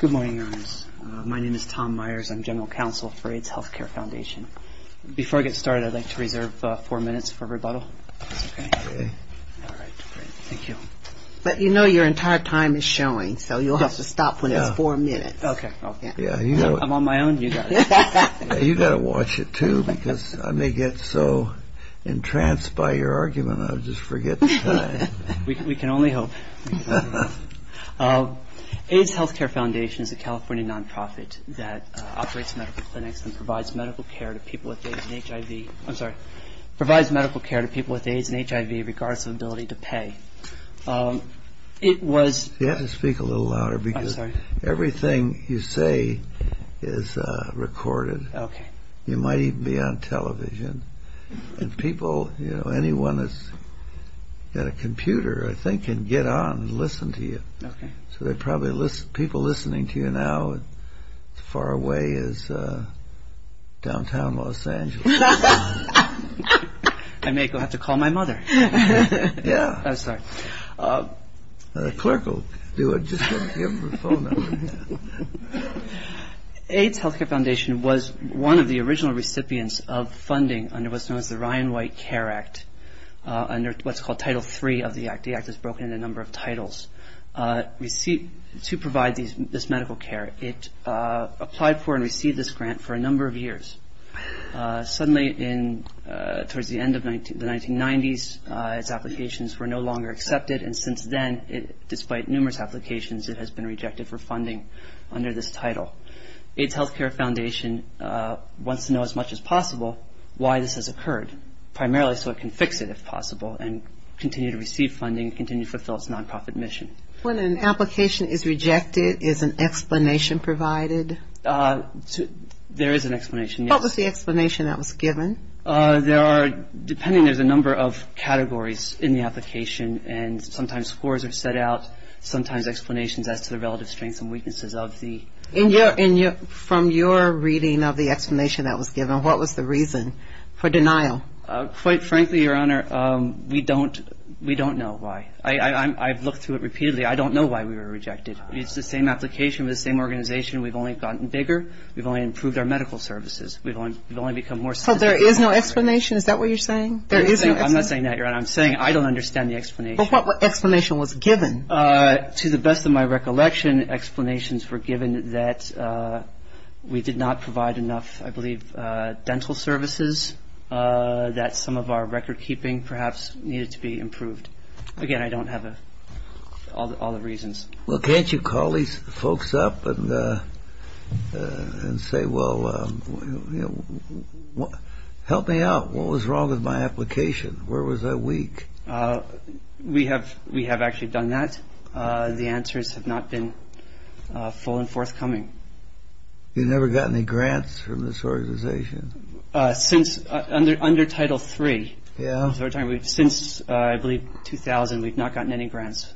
Good morning, Your Honors. My name is Tom Myers. I'm General Counsel for Aids Hlthcre Fndtn. Before I get started, I'd like to reserve four minutes for rebuttal. But you know your entire time is showing, so you'll have to stop when it's four minutes. I'm on my own, you got it. You've got to watch it, too, because I may get so entranced by your argument, I'll just forget the time. We can only hope. Aids Hlthcre Fndtn is a California nonprofit that operates medical clinics and provides medical care to people with AIDS and HIV regardless of ability to pay. You have to speak a little louder because everything you say is recorded. You might even be on television. And people, anyone that's got a computer, I think, can get on and listen to you. So people listening to you now as far away as downtown Los Angeles. I may have to go call my mother. Yeah. I'm sorry. The clerk will do it. Just give him the phone number. Aids Hlthcre Fndtn was one of the original recipients of funding under what's known as the Ryan White Care Act, under what's called Title III of the act. The act is broken into a number of titles. To provide this medical care, it applied for and received this grant for a number of years. Suddenly, towards the end of the 1990s, its applications were no longer accepted, and since then, despite numerous applications, it has been rejected for funding under this title. Aids Hlthcre Fndtn wants to know as much as possible why this has occurred, primarily so it can fix it if possible and continue to receive funding, continue to fulfill its nonprofit mission. When an application is rejected, is an explanation provided? There is an explanation, yes. What was the explanation that was given? There are, depending, there's a number of categories in the application, and sometimes scores are set out, sometimes explanations as to the relative strengths and weaknesses of the grant. From your reading of the explanation that was given, what was the reason for denial? Quite frankly, Your Honor, we don't know why. I've looked through it repeatedly. I don't know why we were rejected. It's the same application with the same organization. We've only gotten bigger. We've only improved our medical services. We've only become more sophisticated. So there is no explanation? Is that what you're saying? I'm not saying that, Your Honor. I'm saying I don't understand the explanation. But what explanation was given? To the best of my recollection, explanations were given that we did not provide enough, I believe, dental services, that some of our recordkeeping perhaps needed to be improved. Again, I don't have all the reasons. Well, can't you call these folks up and say, well, help me out. What was wrong with my application? Where was I weak? We have actually done that. The answers have not been full and forthcoming. You've never gotten any grants from this organization? Under Title III. Since, I believe, 2000, we've not gotten any grants.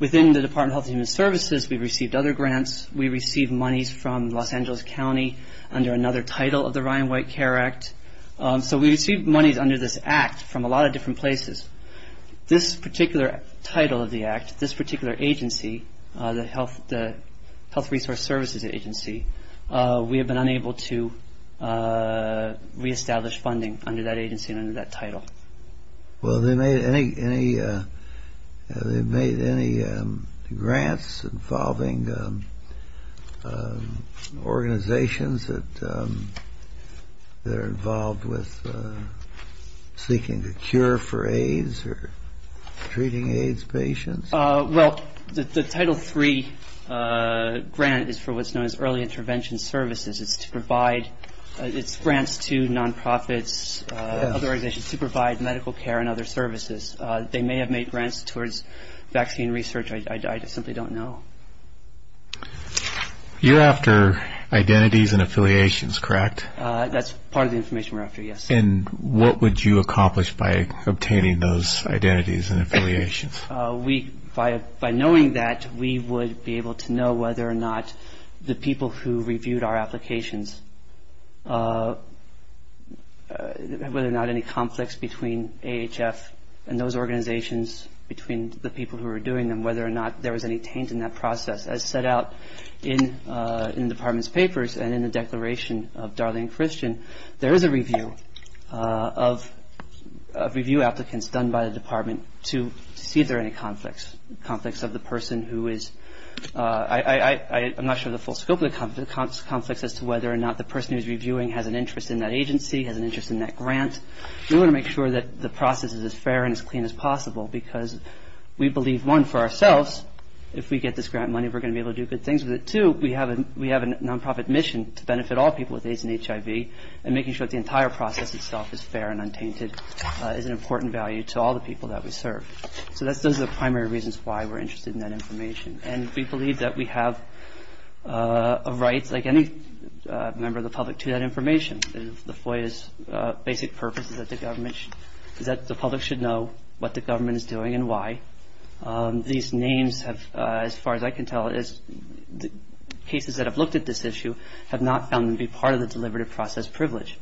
Within the Department of Health and Human Services, we've received other grants. We received monies from Los Angeles County under another title of the Ryan White Care Act. So we received monies under this act from a lot of different places. This particular title of the act, this particular agency, the Health Resource Services Agency, we have been unable to reestablish funding under that agency and under that title. Well, have they made any grants involving organizations that are involved with seeking a cure for AIDS or treating AIDS patients? Well, the Title III grant is for what's known as early intervention services. It's grants to nonprofits, other organizations to provide medical care and other services. They may have made grants towards vaccine research. I simply don't know. You're after identities and affiliations, correct? That's part of the information we're after, yes. By knowing that, we would be able to know whether or not the people who reviewed our applications, whether or not any conflicts between AHF and those organizations, between the people who were doing them, whether or not there was any taint in that process. As set out in the Department's papers and in the Declaration of Darling Christian, there is a review of review applicants done by the Department to see if there are any conflicts, conflicts of the person who is – I'm not sure of the full scope of the conflicts as to whether or not the person who's reviewing has an interest in that agency, has an interest in that grant. We want to make sure that the process is as fair and as clean as possible because we believe, one, for ourselves, if we get this grant money, we're going to be able to do good things with it. Two, we have a nonprofit mission to benefit all people with AIDS and HIV, and making sure that the entire process itself is fair and untainted is an important value to all the people that we serve. So those are the primary reasons why we're interested in that information. And we believe that we have a right, like any member of the public, to that information. The FOIA's basic purpose is that the public should know what the government is doing and why. These names have, as far as I can tell, cases that have looked at this issue have not found them to be part of the deliberative process privilege.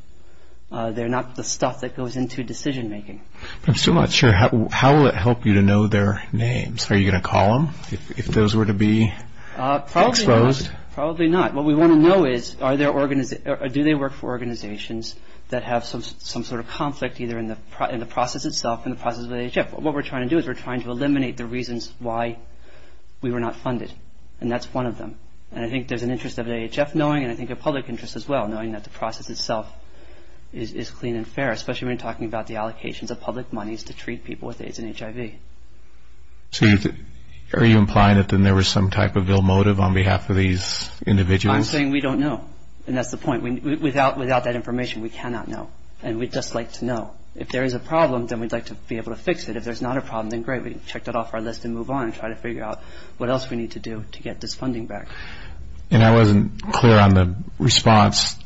They're not the stuff that goes into decision-making. I'm still not sure. How will it help you to know their names? Are you going to call them if those were to be exposed? Probably not. Probably not. What we want to know is do they work for organizations that have some sort of conflict, either in the process itself or in the process of HIV. What we're trying to do is we're trying to eliminate the reasons why we were not funded, and that's one of them. And I think there's an interest of AHF knowing, and I think a public interest as well, knowing that the process itself is clean and fair, especially when you're talking about the allocations of public monies to treat people with AIDS and HIV. So are you implying that there was some type of ill motive on behalf of these individuals? I'm saying we don't know, and that's the point. Without that information, we cannot know, and we'd just like to know. If there is a problem, then we'd like to be able to fix it. If there's not a problem, then great, we can check that off our list and move on and try to figure out what else we need to do to get this funding back. And I wasn't clear on the response.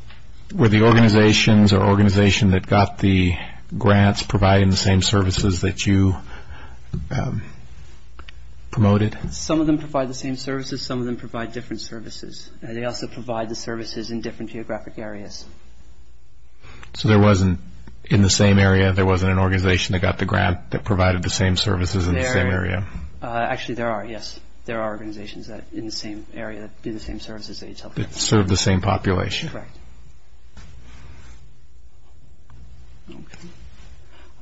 Were the organizations or organization that got the grants providing the same services that you promoted? Some of them provide the same services. Some of them provide different services. They also provide the services in different geographic areas. So there wasn't, in the same area, there wasn't an organization that got the grant that provided the same services in the same area? Actually, there are, yes. There are organizations in the same area that do the same services that you talked about. That serve the same population? Correct.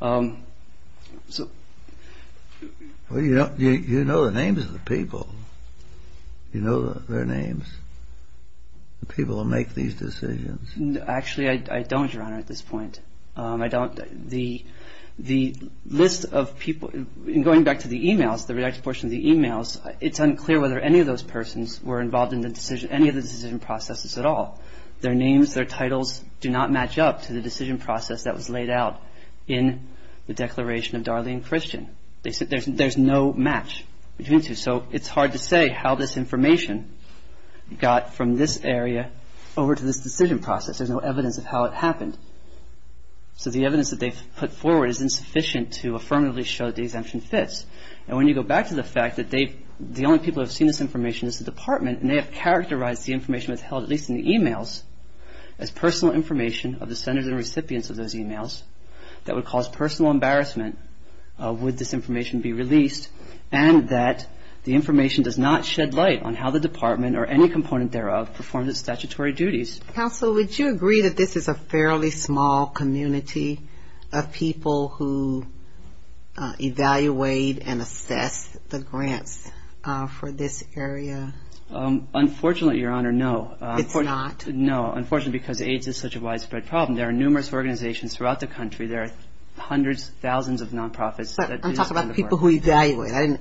Well, you know the names of the people. You know their names. The people who make these decisions. Actually, I don't, Your Honor, at this point. I don't. The list of people, going back to the emails, the redacted portion of the emails, it's unclear whether any of those persons were involved in any of the decision processes at all. Their names, their titles do not match up to the decision process that was laid out in the Declaration of Darlene Christian. There's no match between the two. So it's hard to say how this information got from this area over to this decision process. There's no evidence of how it happened. So the evidence that they've put forward is insufficient to affirmatively show that the exemption fits. And when you go back to the fact that the only people who have seen this information is the department, and they have characterized the information that's held, at least in the emails, as personal information of the senders and recipients of those emails, that would cause personal embarrassment would this information be released, and that the information does not shed light on how the department or any component thereof performs its statutory duties. Counsel, would you agree that this is a fairly small community of people who evaluate and assess the grants for this area? Unfortunately, Your Honor, no. It's not? No, unfortunately, because AIDS is such a widespread problem. There are numerous organizations throughout the country. There are hundreds, thousands of nonprofits. I'm talking about the people who evaluate.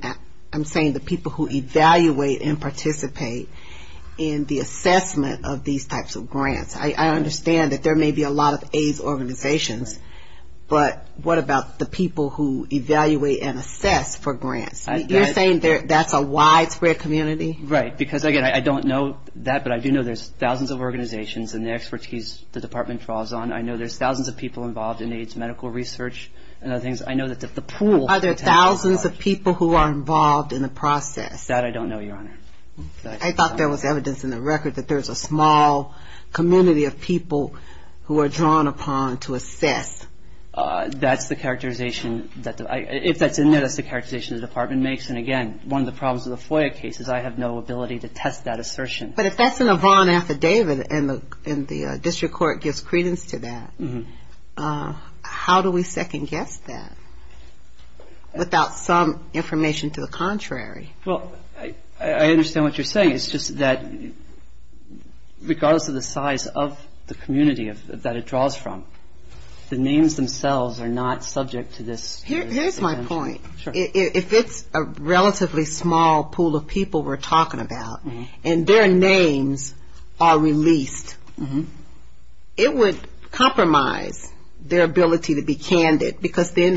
I'm saying the people who evaluate and participate in the assessment of these types of grants. I understand that there may be a lot of AIDS organizations, but what about the people who evaluate and assess for grants? You're saying that's a widespread community? Right, because, again, I don't know that, but I do know there's thousands of organizations and the expertise the department draws on. Are there thousands of people who are involved in the process? That I don't know, Your Honor. I thought there was evidence in the record that there's a small community of people who are drawn upon to assess. That's the characterization. If that's in there, that's the characterization the department makes, and, again, one of the problems with the FOIA case is I have no ability to test that assertion. But if that's in a VON affidavit and the district court gives credence to that, how do we second-guess that without some information to the contrary? Well, I understand what you're saying. It's just that regardless of the size of the community that it draws from, the names themselves are not subject to this. Here's my point. If it's a relatively small pool of people we're talking about and their names are released, it would compromise their ability to be candid, because then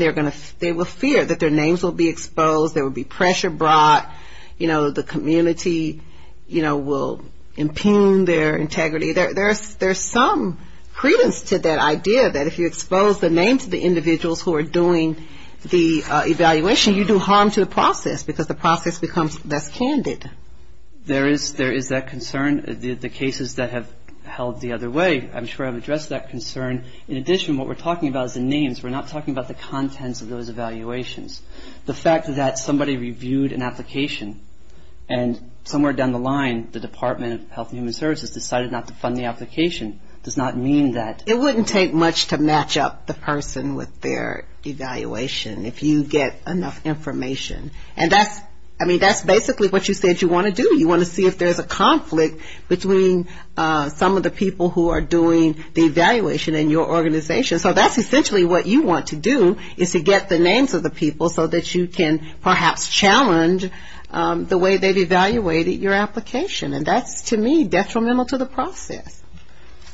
they will fear that their names will be exposed, there will be pressure brought, you know, the community, you know, will impugn their integrity. There's some credence to that idea that if you expose the names of the individuals who are doing the evaluation, you do harm to the process, because the process becomes less candid. There is that concern. The cases that have held the other way I'm sure have addressed that concern. In addition, what we're talking about is the names. We're not talking about the contents of those evaluations. The fact that somebody reviewed an application and somewhere down the line the Department of Health and Human Services decided not to fund the application does not mean that. It wouldn't take much to match up the person with their evaluation if you get enough information. And that's, I mean, that's basically what you said you want to do. You want to see if there's a conflict between some of the people who are doing the evaluation in your organization. So that's essentially what you want to do is to get the names of the people so that you can perhaps challenge the way they've evaluated your application. And that's, to me, detrimental to the process.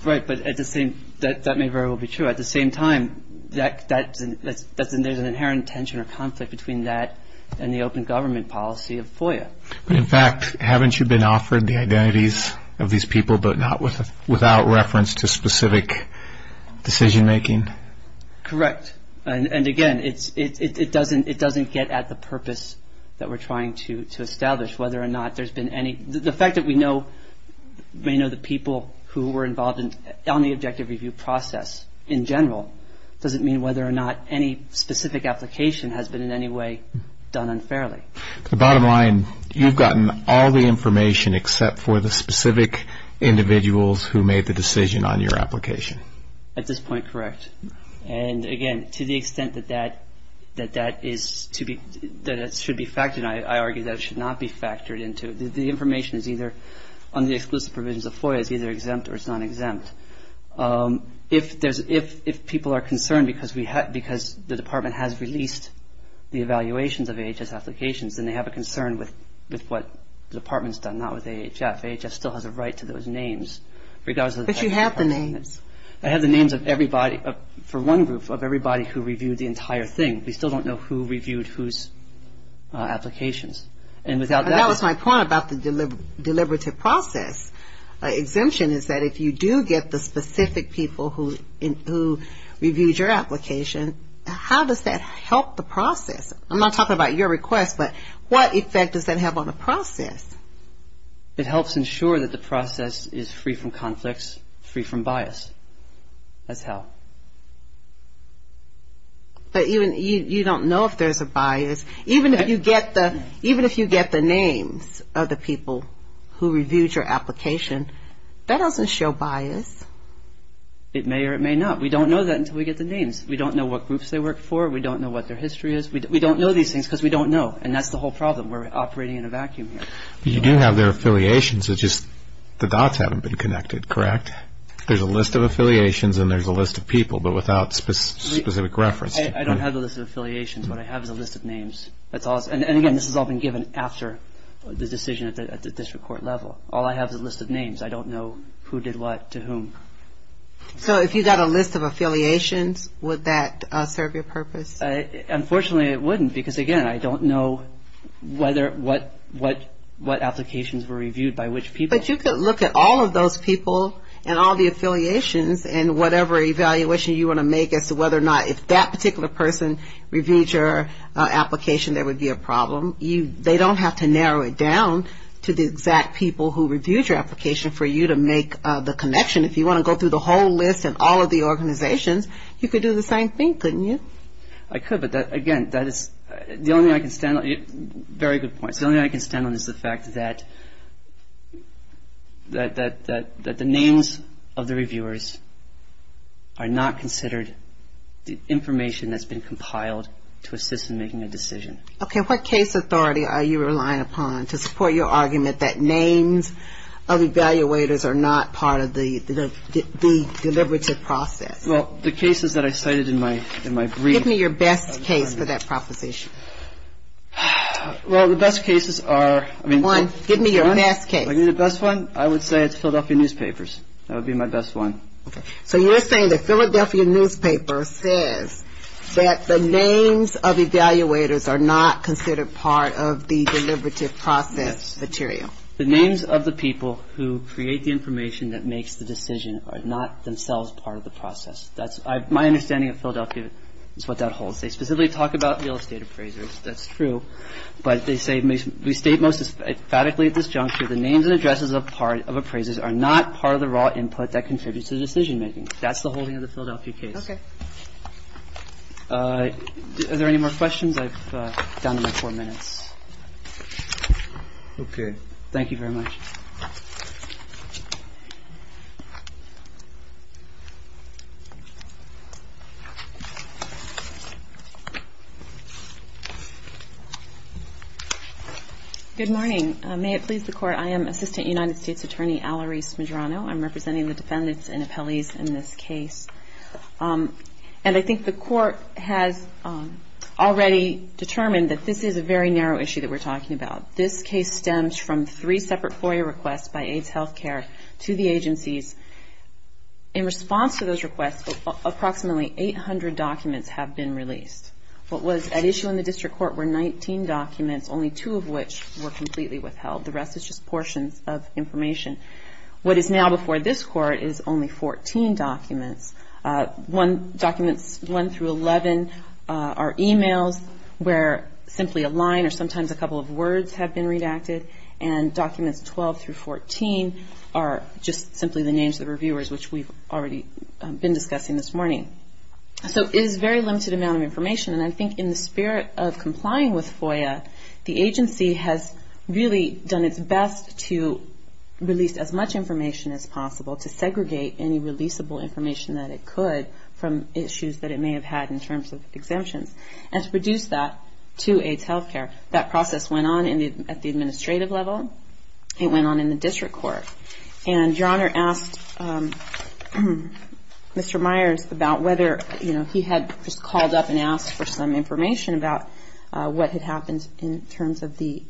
Right, but at the same, that may very well be true. But at the same time, there's an inherent tension or conflict between that and the open government policy of FOIA. In fact, haven't you been offered the identities of these people, but not without reference to specific decision making? Correct. And, again, it doesn't get at the purpose that we're trying to establish, whether or not there's been any. The fact that we may know the people who were involved on the objective review process in general doesn't mean whether or not any specific application has been in any way done unfairly. The bottom line, you've gotten all the information except for the specific individuals who made the decision on your application. At this point, correct. And, again, to the extent that that is to be, that it should be factored, and I argue that it should not be factored into, the information is either on the exclusive provisions of FOIA is either exempt or it's not exempt. If people are concerned because the department has released the evaluations of AHS applications, then they have a concern with what the department's done, not with AHS. AHS still has a right to those names. But you have the names. I have the names of everybody, for one group, of everybody who reviewed the entire thing. We still don't know who reviewed whose applications. And without that... That was my point about the deliberative process. Exemption is that if you do get the specific people who reviewed your application, how does that help the process? I'm not talking about your request, but what effect does that have on the process? It helps ensure that the process is free from conflicts, free from bias. That's how. But you don't know if there's a bias. Even if you get the names of the people who reviewed your application, that doesn't show bias. It may or it may not. We don't know that until we get the names. We don't know what groups they work for. We don't know what their history is. We don't know these things because we don't know, and that's the whole problem. We're operating in a vacuum here. You do have their affiliations. It's just the dots haven't been connected, correct? There's a list of affiliations and there's a list of people, but without specific reference. I don't have a list of affiliations. What I have is a list of names. And, again, this has all been given after the decision at the district court level. All I have is a list of names. I don't know who did what to whom. So if you got a list of affiliations, would that serve your purpose? Unfortunately, it wouldn't because, again, I don't know what applications were reviewed by which people. But you could look at all of those people and all the affiliations and whatever evaluation you want to make as to whether or not if that particular person reviewed your application, there would be a problem. They don't have to narrow it down to the exact people who reviewed your application for you to make the connection. If you want to go through the whole list and all of the organizations, you could do the same thing, couldn't you? I could, but, again, that is the only way I can stand on it. Very good point. The only way I can stand on this is the fact that the names of the reviewers are not considered the information that's been compiled to assist in making a decision. Okay. What case authority are you relying upon to support your argument that names of evaluators are not part of the deliberative process? Well, the cases that I cited in my brief. Give me your best case for that proposition. Well, the best cases are... One, give me your best case. The best one, I would say it's Philadelphia newspapers. That would be my best one. Okay. So you're saying the Philadelphia newspaper says that the names of evaluators are not considered part of the deliberative process material. Yes. The names of the people who create the information that makes the decision are not themselves part of the process. That's my understanding of Philadelphia is what that holds. They specifically talk about real estate appraisers. That's true. But they say we state most emphatically at this juncture, the names and addresses of appraisers are not part of the raw input that contributes to decision making. That's the holding of the Philadelphia case. Okay. Are there any more questions? I've down to my four minutes. Okay. Thank you very much. Good morning. May it please the Court, I am Assistant United States Attorney Alarise Medrano. I'm representing the defendants and appellees in this case. And I think the Court has already determined that this is a very narrow issue that we're talking about. This case stems from three separate FOIA requests by AIDS Healthcare to the agencies. In response to those requests, approximately 800 documents have been released. What was at issue in the District Court were 19 documents, only two of which were completely withheld. The rest is just portions of information. What is now before this Court is only 14 documents. Documents 1 through 11 are e-mails where simply a line or sometimes a couple of words have been redacted. And documents 12 through 14 are just simply the names of the reviewers, which we've already been discussing this morning. So it is a very limited amount of information. And I think in the spirit of complying with FOIA, the agency has really done its best to release as much information as possible, to segregate any releasable information that it could from issues that it may have had in terms of exemptions, and to reduce that to AIDS Healthcare. That process went on at the administrative level. It went on in the District Court. And Your Honor asked Mr. Myers about whether, you know, he had just called up and asked for some information about what had happened in terms of the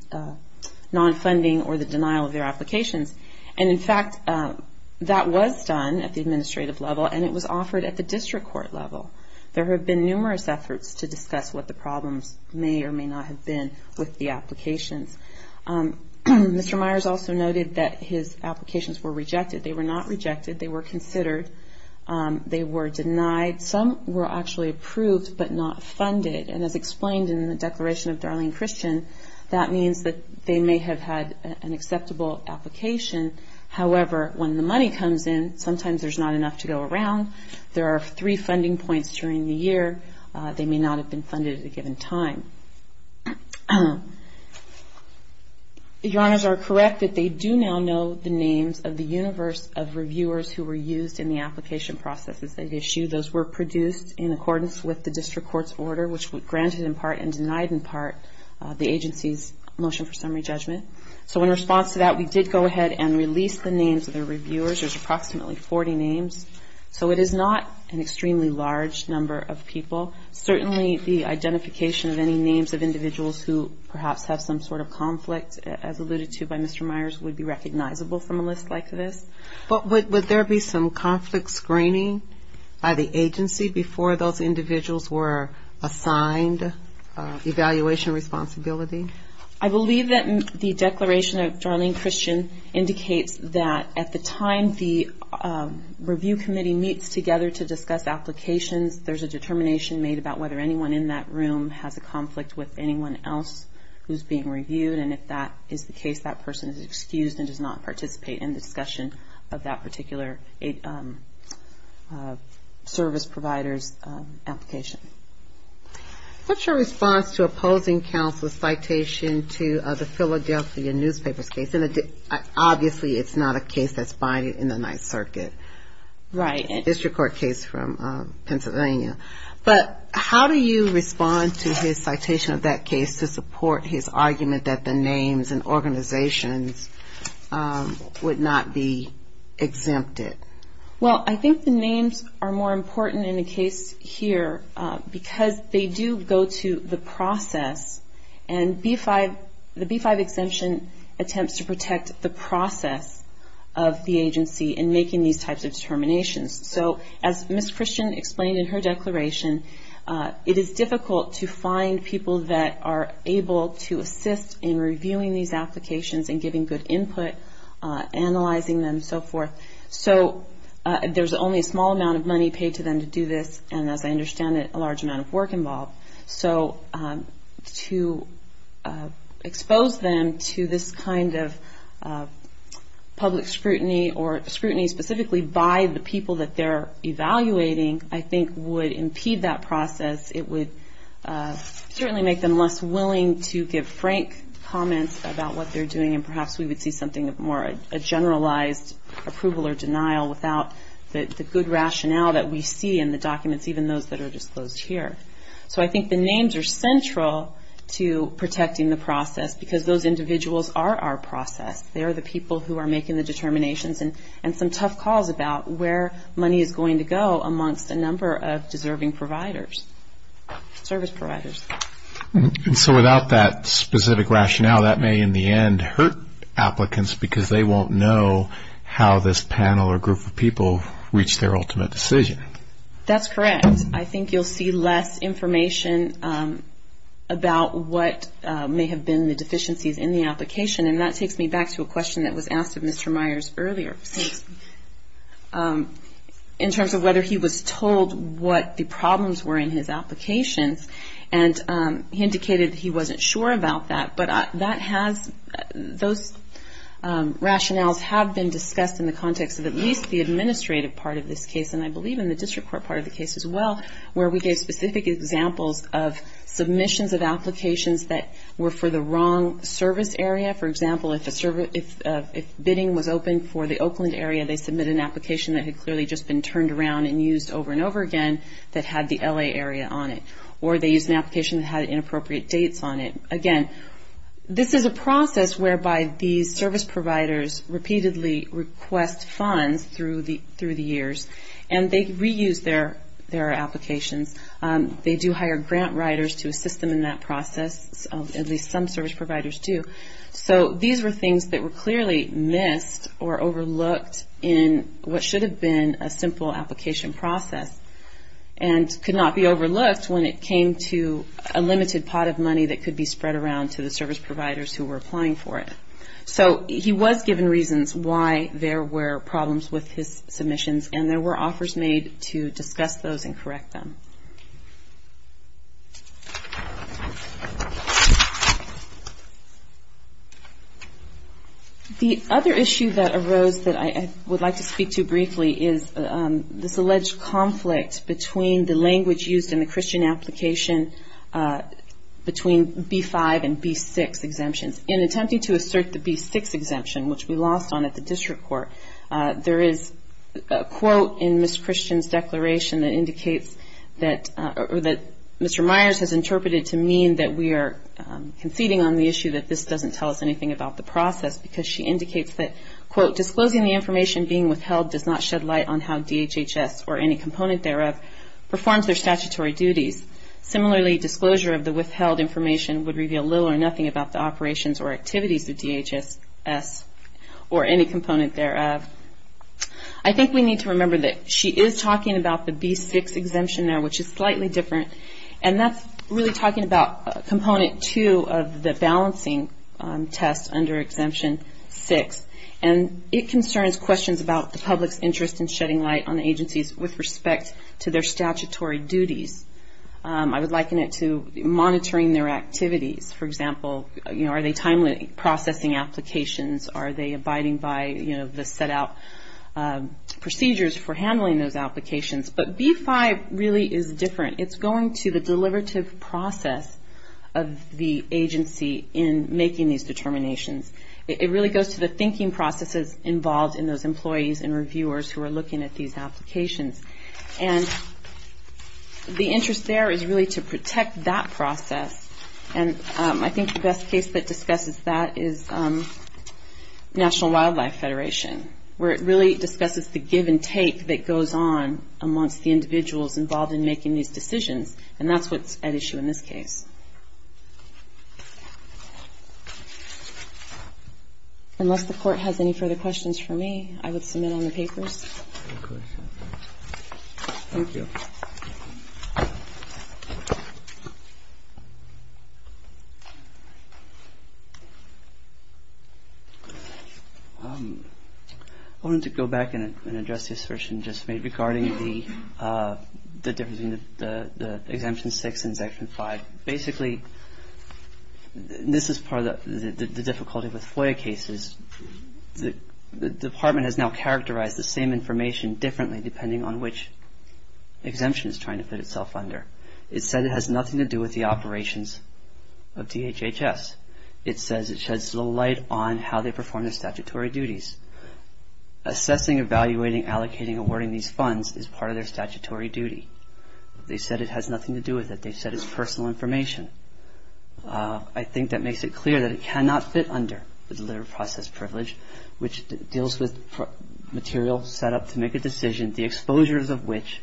non-funding or the denial of their applications. And, in fact, that was done at the administrative level, and it was offered at the District Court level. There have been numerous efforts to discuss what the problems may or may not have been with the applications. Mr. Myers also noted that his applications were rejected. They were not rejected. They were considered. They were denied. Some were actually approved but not funded. And as explained in the Declaration of Darlene Christian, that means that they may have had an acceptable application. However, when the money comes in, sometimes there's not enough to go around. There are three funding points during the year. They may not have been funded at a given time. Your Honors are correct that they do now know the names of the universe of reviewers who were used in the application processes they issued. Those were produced in accordance with the District Court's order, which granted in part and denied in part the agency's motion for summary judgment. So in response to that, we did go ahead and release the names of the reviewers. There's approximately 40 names. So it is not an extremely large number of people. Certainly the identification of any names of individuals who perhaps have some sort of conflict, as alluded to by Mr. Myers, would be recognizable from a list like this. But would there be some conflict screening by the agency before those individuals were assigned evaluation responsibility? I believe that the Declaration of Darlene Christian indicates that at the time the review committee meets together to discuss applications, there's a determination made about whether anyone in that room has a conflict with anyone else who's being reviewed. And if that is the case, that person is excused and does not participate in the discussion of that particular service provider's application. What's your response to opposing counsel's citation to the Philadelphia newspapers case? Obviously it's not a case that's binding in the Ninth Circuit. Right. A District Court case from Pennsylvania. But how do you respond to his citation of that case to support his argument that the names and organizations would not be exempted? Well, I think the names are more important in the case here because they do go to the process. And the B-5 exemption attempts to protect the process of the agency in making these types of determinations. So as Ms. Christian explained in her declaration, it is difficult to find people that are able to assist in reviewing these applications and giving good input, analyzing them, and so forth. So there's only a small amount of money paid to them to do this, and as I understand it, a large amount of work involved. So to expose them to this kind of public scrutiny or scrutiny specifically by the people that they're evaluating, I think, would impede that process. It would certainly make them less willing to give frank comments about what they're doing, and perhaps we would see something of more a generalized approval or denial without the good rationale that we see in the documents, even those that are disclosed here. So I think the names are central to protecting the process because those individuals are our process. They are the people who are making the determinations and some tough calls about where money is going to go amongst a number of deserving providers, service providers. And so without that specific rationale, that may in the end hurt applicants because they won't know how this panel or group of people reach their ultimate decision. That's correct. I think you'll see less information about what may have been the deficiencies in the application, and that takes me back to a question that was asked of Mr. Myers earlier. In terms of whether he was told what the problems were in his applications, and he indicated he wasn't sure about that, but those rationales have been discussed in the context of at least the administrative part of this case, and I believe in the district court part of the case as well, where we gave specific examples of submissions of applications that were for the wrong service area, for example, if bidding was open for the Oakland area, they submitted an application that had clearly just been turned around and used over and over again that had the L.A. area on it, or they used an application that had inappropriate dates on it. Again, this is a process whereby these service providers repeatedly request funds through the years, and they reuse their applications. They do hire grant writers to assist them in that process, at least some service providers do. So these were things that were clearly missed or overlooked in what should have been a simple application process, and could not be overlooked when it came to a limited pot of money that could be spread around to the service providers who were applying for it. So he was given reasons why there were problems with his submissions, and there were offers made to discuss those and correct them. The other issue that arose that I would like to speak to briefly is this alleged conflict between the language used in the Christian application between B-5 and B-6 exemptions. In attempting to assert the B-6 exemption, which we lost on at the district court, there is a quote in Ms. Christian's declaration that Mr. Myers has interpreted to mean that we are conceding on the issue that this doesn't tell us anything about the process, because she indicates that, quote, disclosing the information being withheld does not shed light on how DHHS or any component thereof performs their statutory duties. Similarly, disclosure of the withheld information would reveal little or nothing about the operations or activities of DHS or any component thereof. I think we need to remember that she is talking about the B-6 exemption there, which is slightly different, and that's really talking about Component 2 of the balancing test under Exemption 6, and it concerns questions about the public's interest in shedding light on the agencies with respect to their statutory duties. I would liken it to monitoring their activities. For example, are they timely processing applications? Are they abiding by the set-out procedures for handling those applications? But B-5 really is different. It's going to the deliberative process of the agency in making these determinations. It really goes to the thinking processes involved in those employees and reviewers who are looking at these applications. And the interest there is really to protect that process, and I think the best case that discusses that is National Wildlife Federation, where it really discusses the give and take that goes on amongst the individuals involved in making these decisions, and that's what's at issue in this case. Unless the Court has any further questions for me, I would submit on the papers. Thank you. I wanted to go back and address the assertion just made regarding the difference between the Exemption 6 and Exemption 5. Basically, this is part of the difficulty with FOIA cases. The Department has now characterized the same information differently, depending on which exemption it's trying to put itself under. It said it has nothing to do with the operations of DHHS. It says it sheds little light on how they perform their statutory duties. Assessing, evaluating, allocating, awarding these funds is part of their statutory duty. They said it has nothing to do with it. They said it's personal information. I think that makes it clear that it cannot fit under the Delivered Process Privilege, which deals with material set up to make a decision, the exposures of which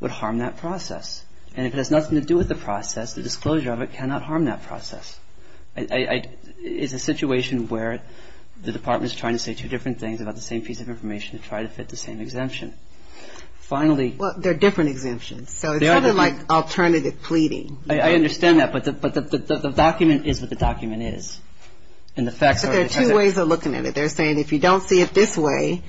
would harm that process. And if it has nothing to do with the process, the disclosure of it cannot harm that process. It's a situation where the Department is trying to say two different things about the same piece of information to try to fit the same exemption. Finally. Well, they're different exemptions, so it's sort of like alternative pleading. I understand that, but the document is what the document is. There are two ways of looking at it. They're saying if you don't see it this way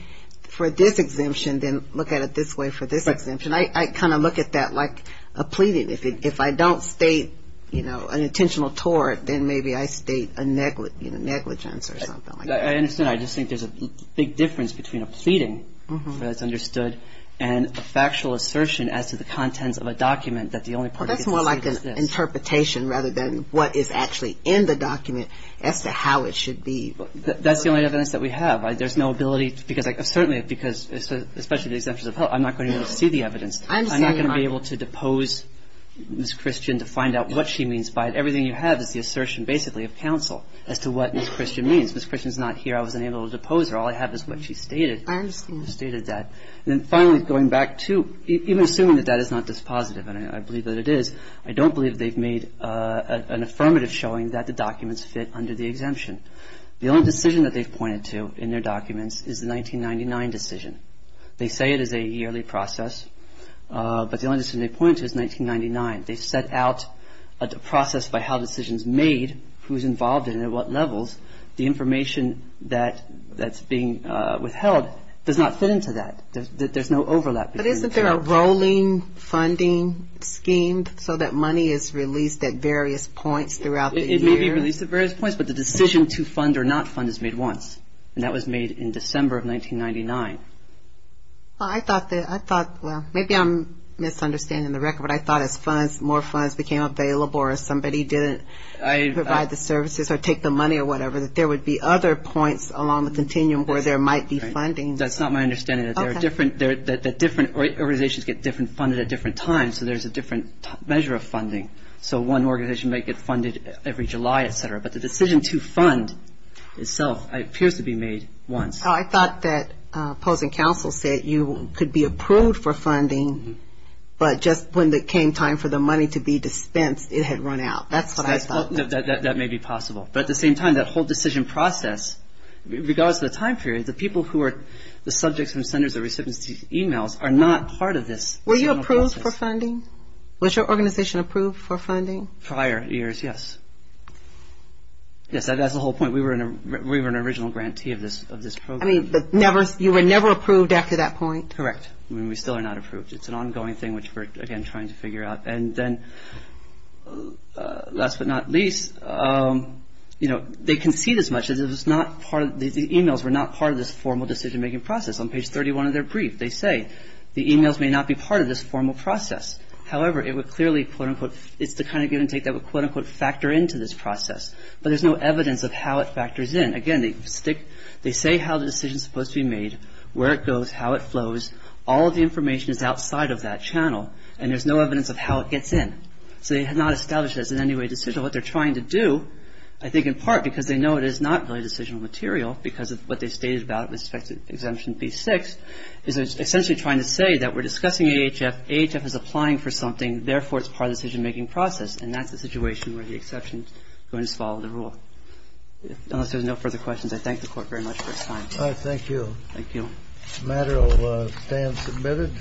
for this exemption, then look at it this way for this exemption. I kind of look at that like a pleading. If I don't state, you know, an intentional tort, then maybe I state a negligence or something like that. I understand that. I just think there's a big difference between a pleading that's understood and a factual assertion as to the contents of a document that the only part that gets seen is this. Well, that's more like an interpretation rather than what is actually in the document as to how it should be. That's the only evidence that we have. There's no ability, because certainly, because especially the exemptions of health, I'm not going to be able to see the evidence. I'm not going to be able to depose Ms. Christian to find out what she means by it. Everything you have is the assertion basically of counsel as to what Ms. Christian means. Ms. Christian is not here. I was unable to depose her. All I have is what she stated. I understand. She stated that. And then finally, going back to even assuming that that is not dispositive, and I believe that it is, I don't believe they've made an affirmative showing that the documents fit under the exemption. The only decision that they've pointed to in their documents is the 1999 decision. They say it is a yearly process, but the only decision they've pointed to is 1999. They've set out a process by how a decision is made, who is involved, and at what levels. The information that's being withheld does not fit into that. There's no overlap. But isn't there a rolling funding scheme so that money is released at various points throughout the year? It may be released at various points, but the decision to fund or not fund is made once, and that was made in December of 1999. Well, I thought that, I thought, well, maybe I'm misunderstanding the record, but I thought as funds, more funds became available or somebody didn't provide the services or take the money or whatever, that there would be other points along the continuum where there might be funding. That's not my understanding. There are different organizations get different funded at different times, so there's a different measure of funding. So one organization might get funded every July, et cetera. But the decision to fund itself appears to be made once. So I thought that opposing counsel said you could be approved for funding, but just when it came time for the money to be dispensed, it had run out. That's what I thought. That may be possible. But at the same time, that whole decision process, regardless of the time period, the people who are the subjects and senders or recipients of these e-mails are not part of this. Were you approved for funding? Was your organization approved for funding? Prior years, yes. Yes, that's the whole point. We were an original grantee of this program. I mean, you were never approved after that point? Correct. I mean, we still are not approved. It's an ongoing thing, which we're, again, trying to figure out. And then last but not least, you know, they concede as much. The e-mails were not part of this formal decision-making process. On page 31 of their brief, they say the e-mails may not be part of this formal process. However, it would clearly, quote-unquote, it's the kind of give and take that would, quote-unquote, factor into this process. But there's no evidence of how it factors in. Again, they say how the decision is supposed to be made, where it goes, how it flows. All of the information is outside of that channel, and there's no evidence of how it gets in. So they have not established that it's in any way decisional. What they're trying to do, I think in part because they know it is not really decisional material because of what they stated about it with respect to exemption B-6, is essentially trying to say that we're discussing AHF. AHF is applying for something. Therefore, it's part of the decision-making process, and that's the situation where the exception is going to follow the rule. Unless there's no further questions, I thank the Court very much for its time. Thank you. Thank you. The matter will stand submitted.